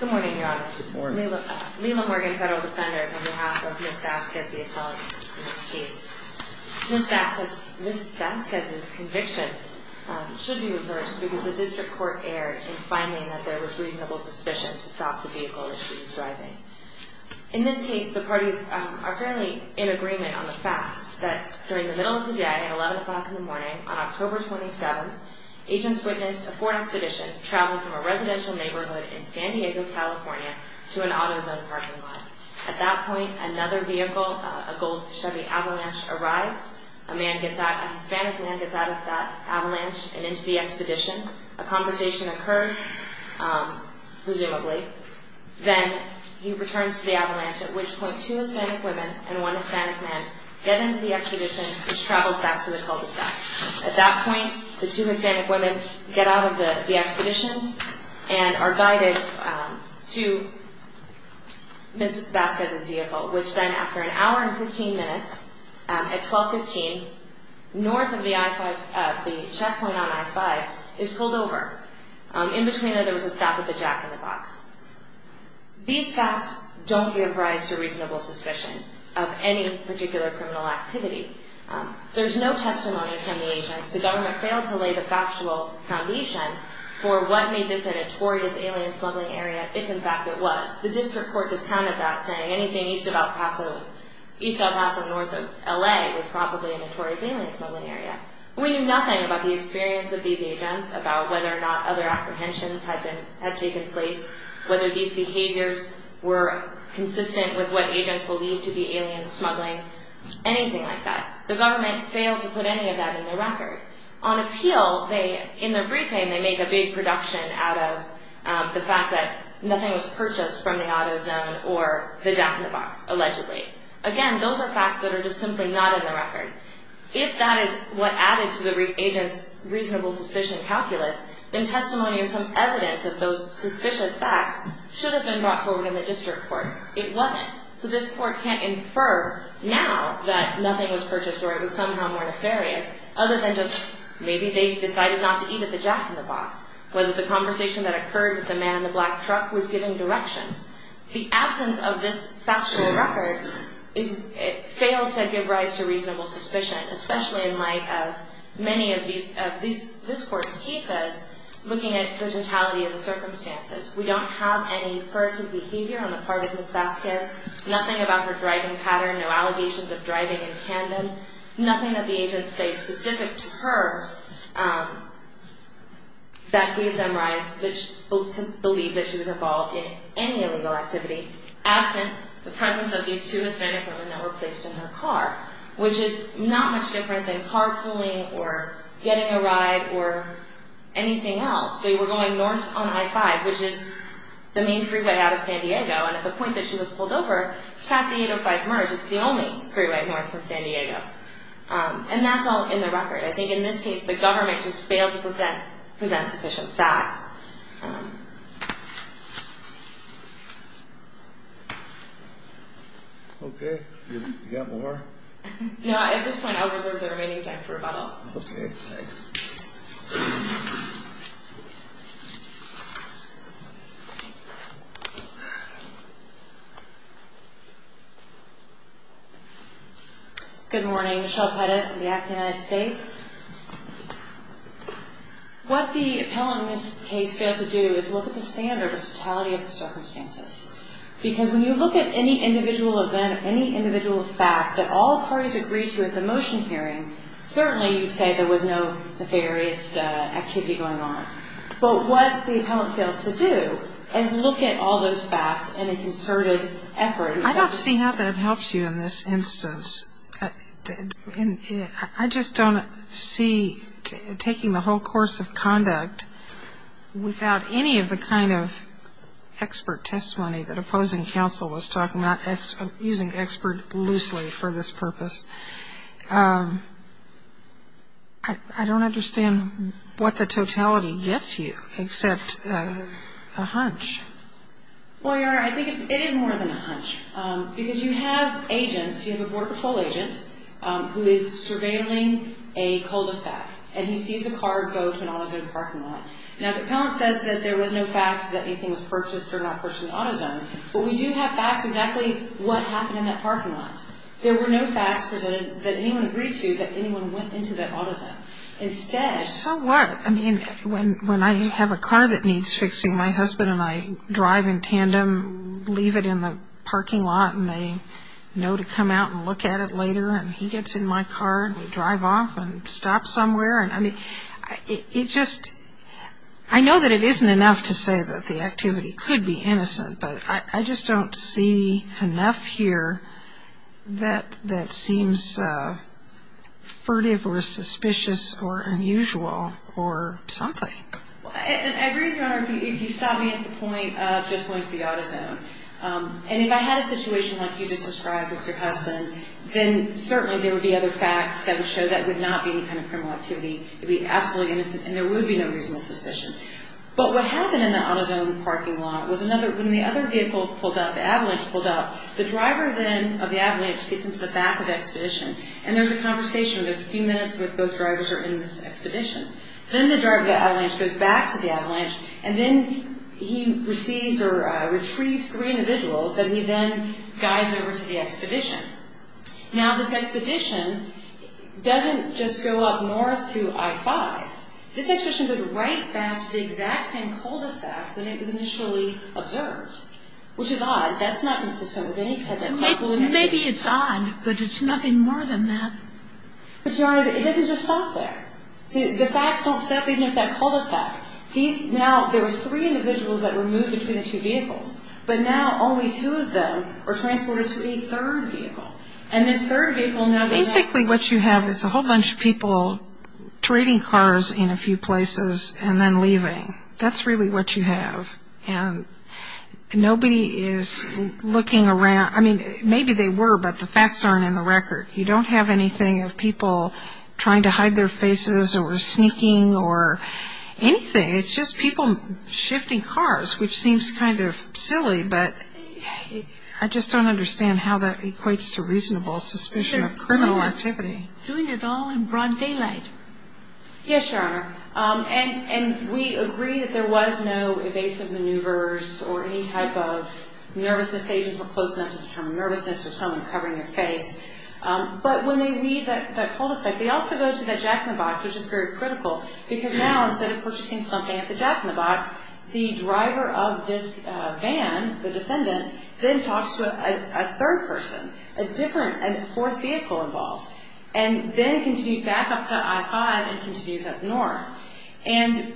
Good morning, Your Honors. Lila Morgan, Federal Defender, on behalf of Ms. Vasquez, the attorney in this case. Ms. Vasquez's conviction should be reversed because the District Court erred in finding that there was reasonable suspicion to stop the vehicle that she was driving. In this case, the parties are fairly in agreement on the facts that during the middle of the day at 11 o'clock in the morning on October 27th, the defendants witnessed a Ford Expedition travel from a residential neighborhood in San Diego, California to an AutoZone parking lot. At that point, another vehicle, a gold Chevy Avalanche, arrives. A Hispanic man gets out of that Avalanche and into the Expedition. A conversation occurs, presumably. Then he returns to the Avalanche, at which point two Hispanic women and one Hispanic man get into the Expedition, which travels back to the cul-de-sac. At that point, the two Hispanic women get out of the Expedition and are guided to Ms. Vasquez's vehicle, which then, after an hour and 15 minutes, at 12.15, north of the checkpoint on I-5, is pulled over. In between there, there was a stop with a jack-in-the-box. These facts don't give rise to reasonable suspicion of any particular criminal activity. There's no testimony from the agents. The government failed to lay the factual foundation for what made this a notorious alien smuggling area, if in fact it was. The district court discounted that, saying anything east of El Paso, north of L.A., was probably a notorious alien smuggling area. We knew nothing about the experience of these agents, about whether or not other apprehensions had taken place, whether these behaviors were consistent with what agents believed to be alien smuggling, anything like that. The government failed to put any of that in the record. On appeal, in their briefing, they make a big production out of the fact that nothing was purchased from the auto zone or the jack-in-the-box, allegedly. Again, those are facts that are just simply not in the record. If that is what added to the agents' reasonable suspicion calculus, then testimony and some evidence of those suspicious facts should have been brought forward in the district court. It wasn't. So this court can't infer now that nothing was purchased or it was somehow more nefarious, other than just maybe they decided not to eat at the jack-in-the-box, whether the conversation that occurred with the man in the black truck was giving directions. The absence of this factual record fails to give rise to reasonable suspicion, especially in light of many of this court's cases, looking at the totality of the circumstances. We don't have any furtive behavior on the part of Ms. Vasquez, nothing about her driving pattern, no allegations of driving in tandem, nothing that the agents say specific to her that gave them rise to believe that she was involved in any illegal activity. Absent the presence of these two Hispanic women that were placed in her car, which is not much different than carpooling or getting a ride or anything else. They were going north on I-5, which is the main freeway out of San Diego. And at the point that she was pulled over, it's past the I-5 merge. It's the only freeway north of San Diego. And that's all in the record. I think in this case the government just failed to present sufficient facts. Okay. You got more? Okay, thanks. Good morning. Michelle Pettit from the Act of the United States. What the appellant in this case fails to do is look at the standard of totality of the circumstances. Because when you look at any individual event, any individual fact that all parties agreed to at the motion hearing, certainly you'd say there was no nefarious activity going on. But what the appellant fails to do is look at all those facts in a concerted effort. I don't see how that helps you in this instance. I just don't see taking the whole course of conduct without any of the kind of expert testimony that opposing counsel was talking about, using expert loosely for this purpose. I don't understand what the totality gets you except a hunch. Well, Your Honor, I think it is more than a hunch. Because you have agents, you have a Border Patrol agent who is surveilling a cul-de-sac, and he sees a car go to an auto zone parking lot. Now, the appellant says that there was no facts that anything was purchased or not purchased in the auto zone, but we do have facts exactly what happened in that parking lot. There were no facts presented that anyone agreed to that anyone went into that auto zone. Instead of that, the appellant says, So what? I mean, when I have a car that needs fixing, my husband and I drive in tandem, leave it in the parking lot, and they know to come out and look at it later. And he gets in my car, and we drive off and stop somewhere. And, I mean, it just – I know that it isn't enough to say that the activity could be innocent, but I just don't see enough here that seems furtive or suspicious or unusual or something. Well, I agree with Your Honor if you stop me at the point of just going to the auto zone. And if I had a situation like you just described with your husband, then certainly there would be other facts that would show that would not be any kind of criminal activity. It would be absolutely innocent, and there would be no reason to suspicion. But what happened in the auto zone parking lot was another – when the other vehicle pulled up, the avalanche pulled up, the driver then of the avalanche gets into the back of the expedition, and there's a conversation. There's a few minutes where both drivers are in this expedition. Then the driver of the avalanche goes back to the avalanche, and then he receives or retrieves three individuals that he then guides over to the expedition. Now, this expedition doesn't just go up north to I-5. This expedition goes right back to the exact same cul-de-sac that it was initially observed, which is odd. That's not consistent with any type of carpooling activity. Maybe it's odd, but it's nothing more than that. But, Your Honor, it doesn't just stop there. See, the facts don't stop even at that cul-de-sac. These – now there was three individuals that were moved between the two vehicles, but now only two of them are transported to a third vehicle. And this third vehicle now – basically what you have is a whole bunch of people trading cars in a few places and then leaving. That's really what you have. And nobody is looking around. I mean, maybe they were, but the facts aren't in the record. You don't have anything of people trying to hide their faces or sneaking or anything. It's just people shifting cars, which seems kind of silly, but I just don't understand how that equates to reasonable suspicion of criminal activity. Doing it all in broad daylight. Yes, Your Honor. And we agree that there was no evasive maneuvers or any type of nervousness. The agents were close enough to determine nervousness or someone covering their face. But when they leave that cul-de-sac, they also go to that jack-in-the-box, which is very critical, because now instead of purchasing something at the jack-in-the-box, the driver of this van, the defendant, then talks to a third person. A different – a fourth vehicle involved. And then continues back up to I-5 and continues up north. And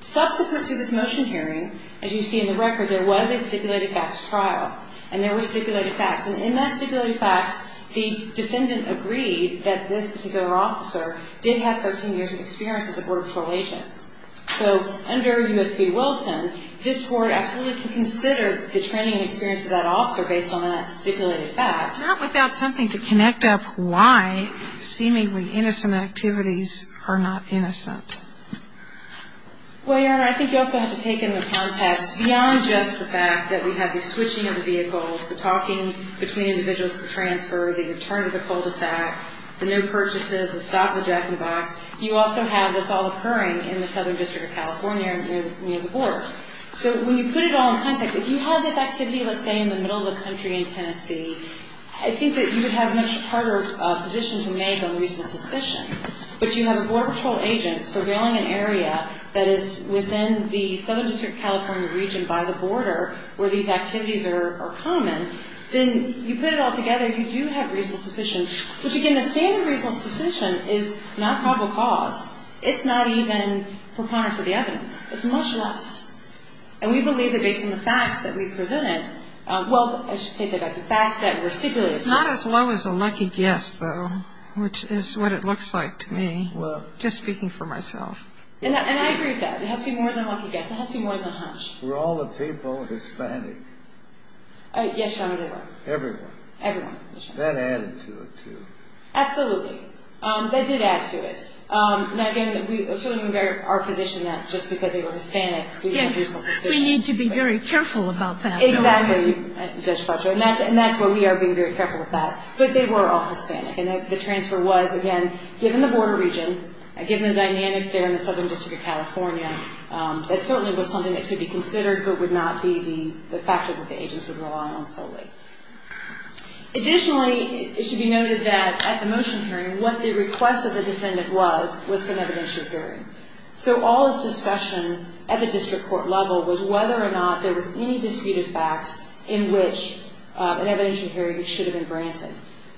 subsequent to this motion hearing, as you see in the record, there was a stipulated facts trial. And there were stipulated facts. And in that stipulated facts, the defendant agreed that this particular officer did have 13 years of experience as a border patrol agent. So under U.S. v. Wilson, this court absolutely can consider the training and experience of that officer based on that stipulated fact. Not without something to connect up why seemingly innocent activities are not innocent. Well, Your Honor, I think you also have to take into context beyond just the fact that we have the switching of the vehicles, the talking between individuals for transfer, the return of the cul-de-sac, the no purchases, the stop at the jack-in-the-box, you also have this all occurring in the Southern District of California near the border. So when you put it all in context, if you had this activity, let's say, in the middle of the country in Tennessee, I think that you would have a much harder position to make on reasonable suspicion. But you have a border patrol agent surveilling an area that is within the Southern District of California region by the border where these activities are common. Then you put it all together, you do have reasonable suspicion, which, again, the standard reasonable suspicion is not probable cause. It's not even preponderance of the evidence. It's much less. And we believe that based on the facts that we've presented, well, I should say that the facts that were stipulated. It's not as low as a lucky guess, though, which is what it looks like to me, just speaking for myself. And I agree with that. It has to be more than a lucky guess. It has to be more than a hunch. Were all the people Hispanic? Yes, Your Honor, they were. Everyone? Everyone, Your Honor. That added to it, too. Absolutely. That did add to it. Now, again, it's certainly our position that just because they were Hispanic, we didn't have reasonable suspicion. We need to be very careful about that. Exactly, Judge Fletcher. And that's where we are being very careful with that. But they were all Hispanic. And the transfer was, again, given the border region, given the dynamics there in the Southern District of California, that certainly was something that could be considered but would not be the factor that the agents would rely on solely. Additionally, it should be noted that at the motion hearing, what the request of the defendant was was for an evidentiary hearing. So all this discussion at the district court level was whether or not there was any disputed facts in which an evidentiary hearing should have been granted.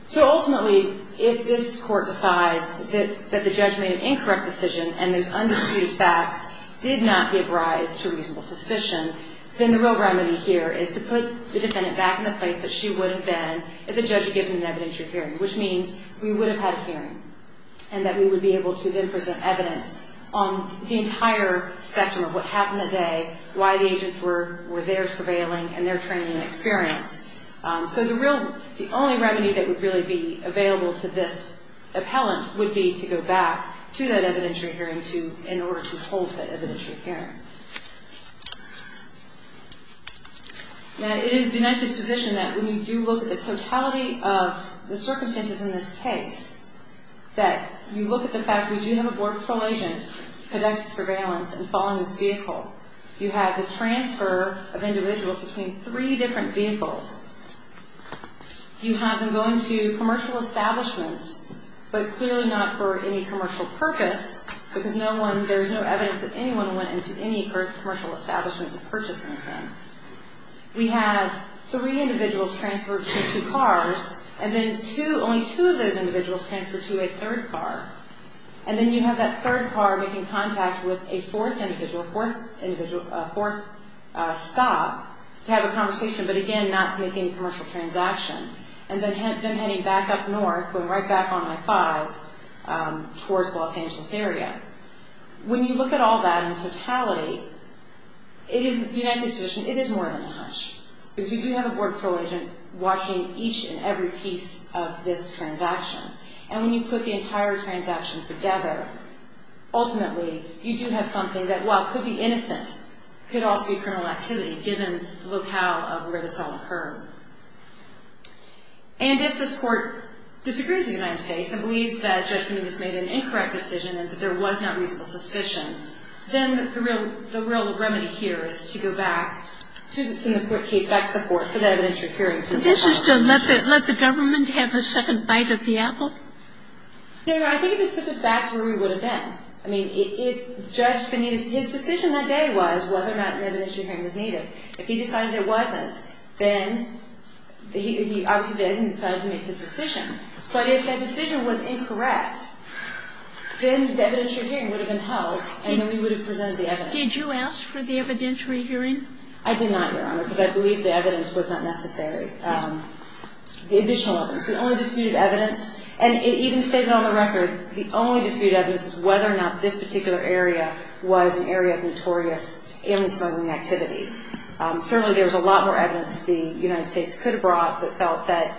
So ultimately, if this court decides that the judge made an incorrect decision and those undisputed facts did not give rise to reasonable suspicion, then the real remedy here is to put the defendant back in the place that she would have been if the judge had given an evidentiary hearing, which means we would have had a hearing and that we would be able to then present evidence on the entire spectrum of what happened that day, why the agents were there surveilling, and their training and experience. So the only remedy that would really be available to this appellant would be to go back to that evidentiary hearing in order to hold that evidentiary hearing. Now, it is the United States position that when you do look at the totality of the circumstances in this case, that you look at the fact we do have a Border Patrol agent conducting surveillance and following this vehicle. You have the transfer of individuals between three different vehicles. You have them going to commercial establishments, but clearly not for any commercial purpose because there is no evidence that anyone went into any commercial establishment to purchase anything. We have three individuals transferred to two cars, and then only two of those individuals transferred to a third car. And then you have that third car making contact with a fourth individual, a fourth stop, to have a conversation, but again, not to make any commercial transaction. And then heading back up north, going right back on I-5 towards Los Angeles area. When you look at all that in totality, it is the United States position, it is more than a hunch. Because we do have a Border Patrol agent watching each and every piece of this transaction. And when you put the entire transaction together, ultimately, you do have something that, while it could be innocent, could also be criminal activity, given the locale of where this all occurred. And if this Court disagrees with the United States and believes that judgment of this made an incorrect decision and that there was not reasonable suspicion, then the real remedy here is to go back to the court case, back to the Court for that evidence to occur. Sotomayor, this is to let the government have a second bite of the apple? No, Your Honor. I think it just puts us back to where we would have been. I mean, it's just been his decision that day was whether or not an evidentiary hearing was needed. If he decided it wasn't, then he obviously didn't. He decided to make his decision. But if that decision was incorrect, then the evidentiary hearing would have been held, and then we would have presented the evidence. Did you ask for the evidentiary hearing? I did not, Your Honor, because I believe the evidence was not necessary. The additional evidence, the only disputed evidence, and it even stated on the record, the only disputed evidence is whether or not this particular area was an area of notorious alien smuggling activity. Certainly there was a lot more evidence the United States could have brought that felt that,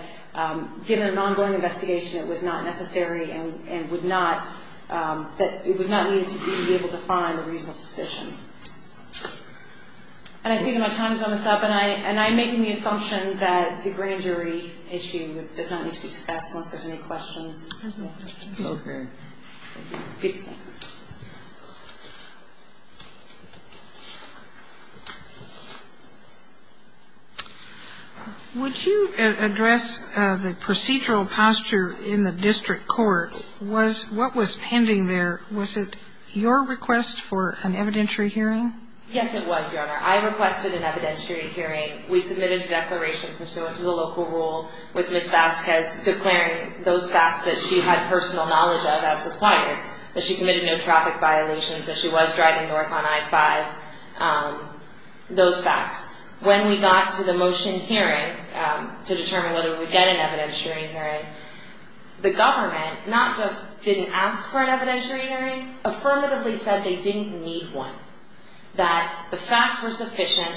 given an ongoing investigation, it was not necessary and would not, that it was not needed to be able to find the reasonable suspicion. And I see that my time is almost up, and I'm making the assumption that the grand jury issue does not need to be discussed unless there's any questions. Okay. Would you address the procedural posture in the district court? What was pending there? Was it your request for an evidentiary hearing? Yes, it was, Your Honor. I requested an evidentiary hearing. We submitted a declaration pursuant to the local rule, with Ms. Vasquez declaring those facts that she had personal knowledge of as required, that she committed no traffic violations, that she was driving north on I-5, those facts. When we got to the motion hearing to determine whether we would get an evidentiary hearing, the government not just didn't ask for an evidentiary hearing, affirmatively said they didn't need one, that the facts were sufficient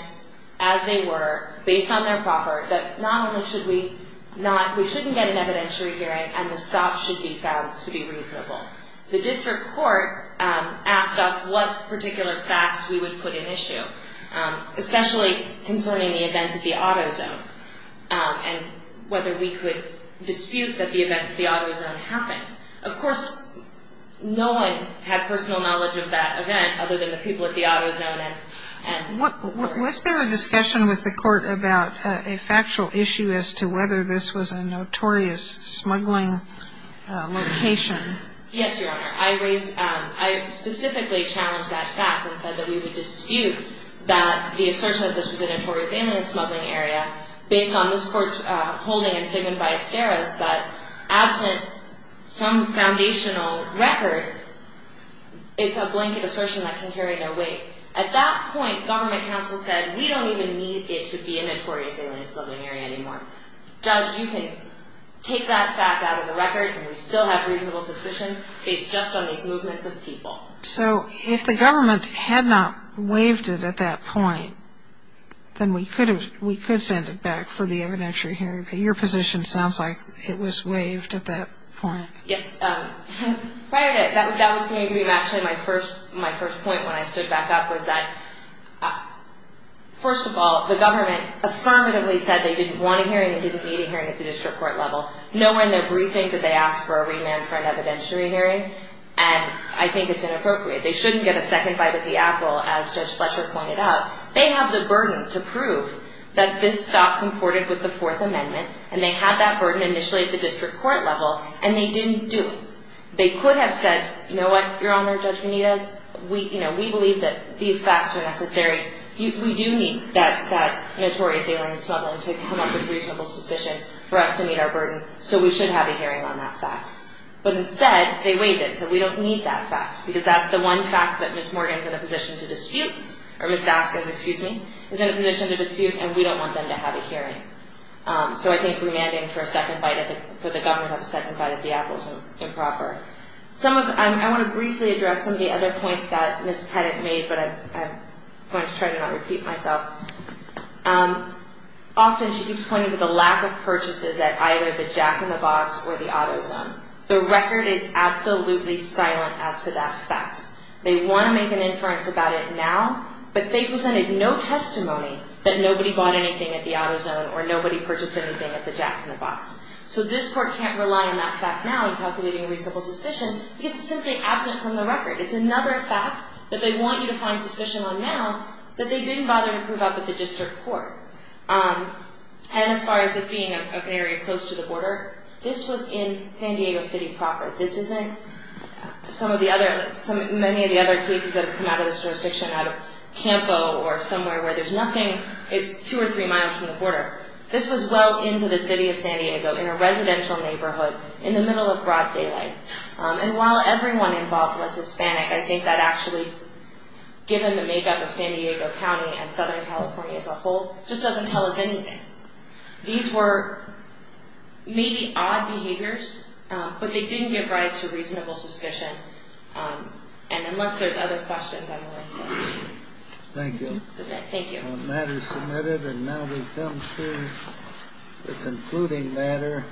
as they were, based on their proper, that not only should we not, we shouldn't get an evidentiary hearing, and the stop should be found to be reasonable. The district court asked us what particular facts we would put in issue, especially concerning the events of the auto zone, and whether we could dispute that the events of the auto zone happened. Of course, no one had personal knowledge of that event, other than the people at the auto zone. Was there a discussion with the court about a factual issue as to whether this was a notorious smuggling location? Yes, Your Honor. I raised, I specifically challenged that fact and said that we would dispute that the assertion that this was a notorious alien smuggling area, based on this court's holding and statement by Esteros, that absent some foundational record, it's a blanket assertion that can carry no weight. At that point, government counsel said, we don't even need it to be a notorious alien smuggling area anymore. Judge, you can take that fact out of the record, and we still have reasonable suspicion based just on these movements of people. So if the government had not waived it at that point, then we could send it back for the evidentiary hearing. But your position sounds like it was waived at that point. Yes. That was going to be actually my first point when I stood back up, was that, first of all, the government affirmatively said they didn't want a hearing and didn't need a hearing at the district court level. Nowhere in their briefing did they ask for a remand for an evidentiary hearing, and I think it's inappropriate. They shouldn't get a second bite of the apple, as Judge Fletcher pointed out. They have the burden to prove that this stock comported with the Fourth Amendment, and they had that burden initially at the district court level, and they didn't do it. They could have said, you know what, Your Honor, Judge Benitez, we believe that these facts are necessary. We do need that notorious alien smuggling to come up with reasonable suspicion for us to meet our burden, so we should have a hearing on that fact. But instead, they waived it, so we don't need that fact, because that's the one fact that Ms. Morgan is in a position to dispute, or Ms. Vasquez, excuse me, is in a position to dispute, and we don't want them to have a hearing. So I think remanding for a second bite, I think for the government to have a second bite of the apple is improper. I want to briefly address some of the other points that Ms. Pettit made, but I'm going to try to not repeat myself. Often she keeps pointing to the lack of purchases at either the jack-in-the-box or the auto zone. The record is absolutely silent as to that fact. They want to make an inference about it now, but they presented no testimony that nobody bought anything at the auto zone or nobody purchased anything at the jack-in-the-box. So this Court can't rely on that fact now in calculating reasonable suspicion because it's simply absent from the record. It's another fact that they want you to find suspicion on now that they didn't bother to prove up at the District Court. And as far as this being an area close to the border, this was in San Diego City proper. This isn't some of the other, many of the other cases that have come out of the jurisdiction out of Campo or somewhere where there's nothing. It's two or three miles from the border. This was well into the city of San Diego in a residential neighborhood in the middle of broad daylight. And while everyone involved was Hispanic, I think that actually, given the makeup of San Diego County and Southern California as a whole, just doesn't tell us anything. These were maybe odd behaviors, but they didn't give rise to reasonable suspicion. And unless there's other questions, I'm willing to submit. Thank you. Thank you. The matter is submitted, and now we come to the concluding matter.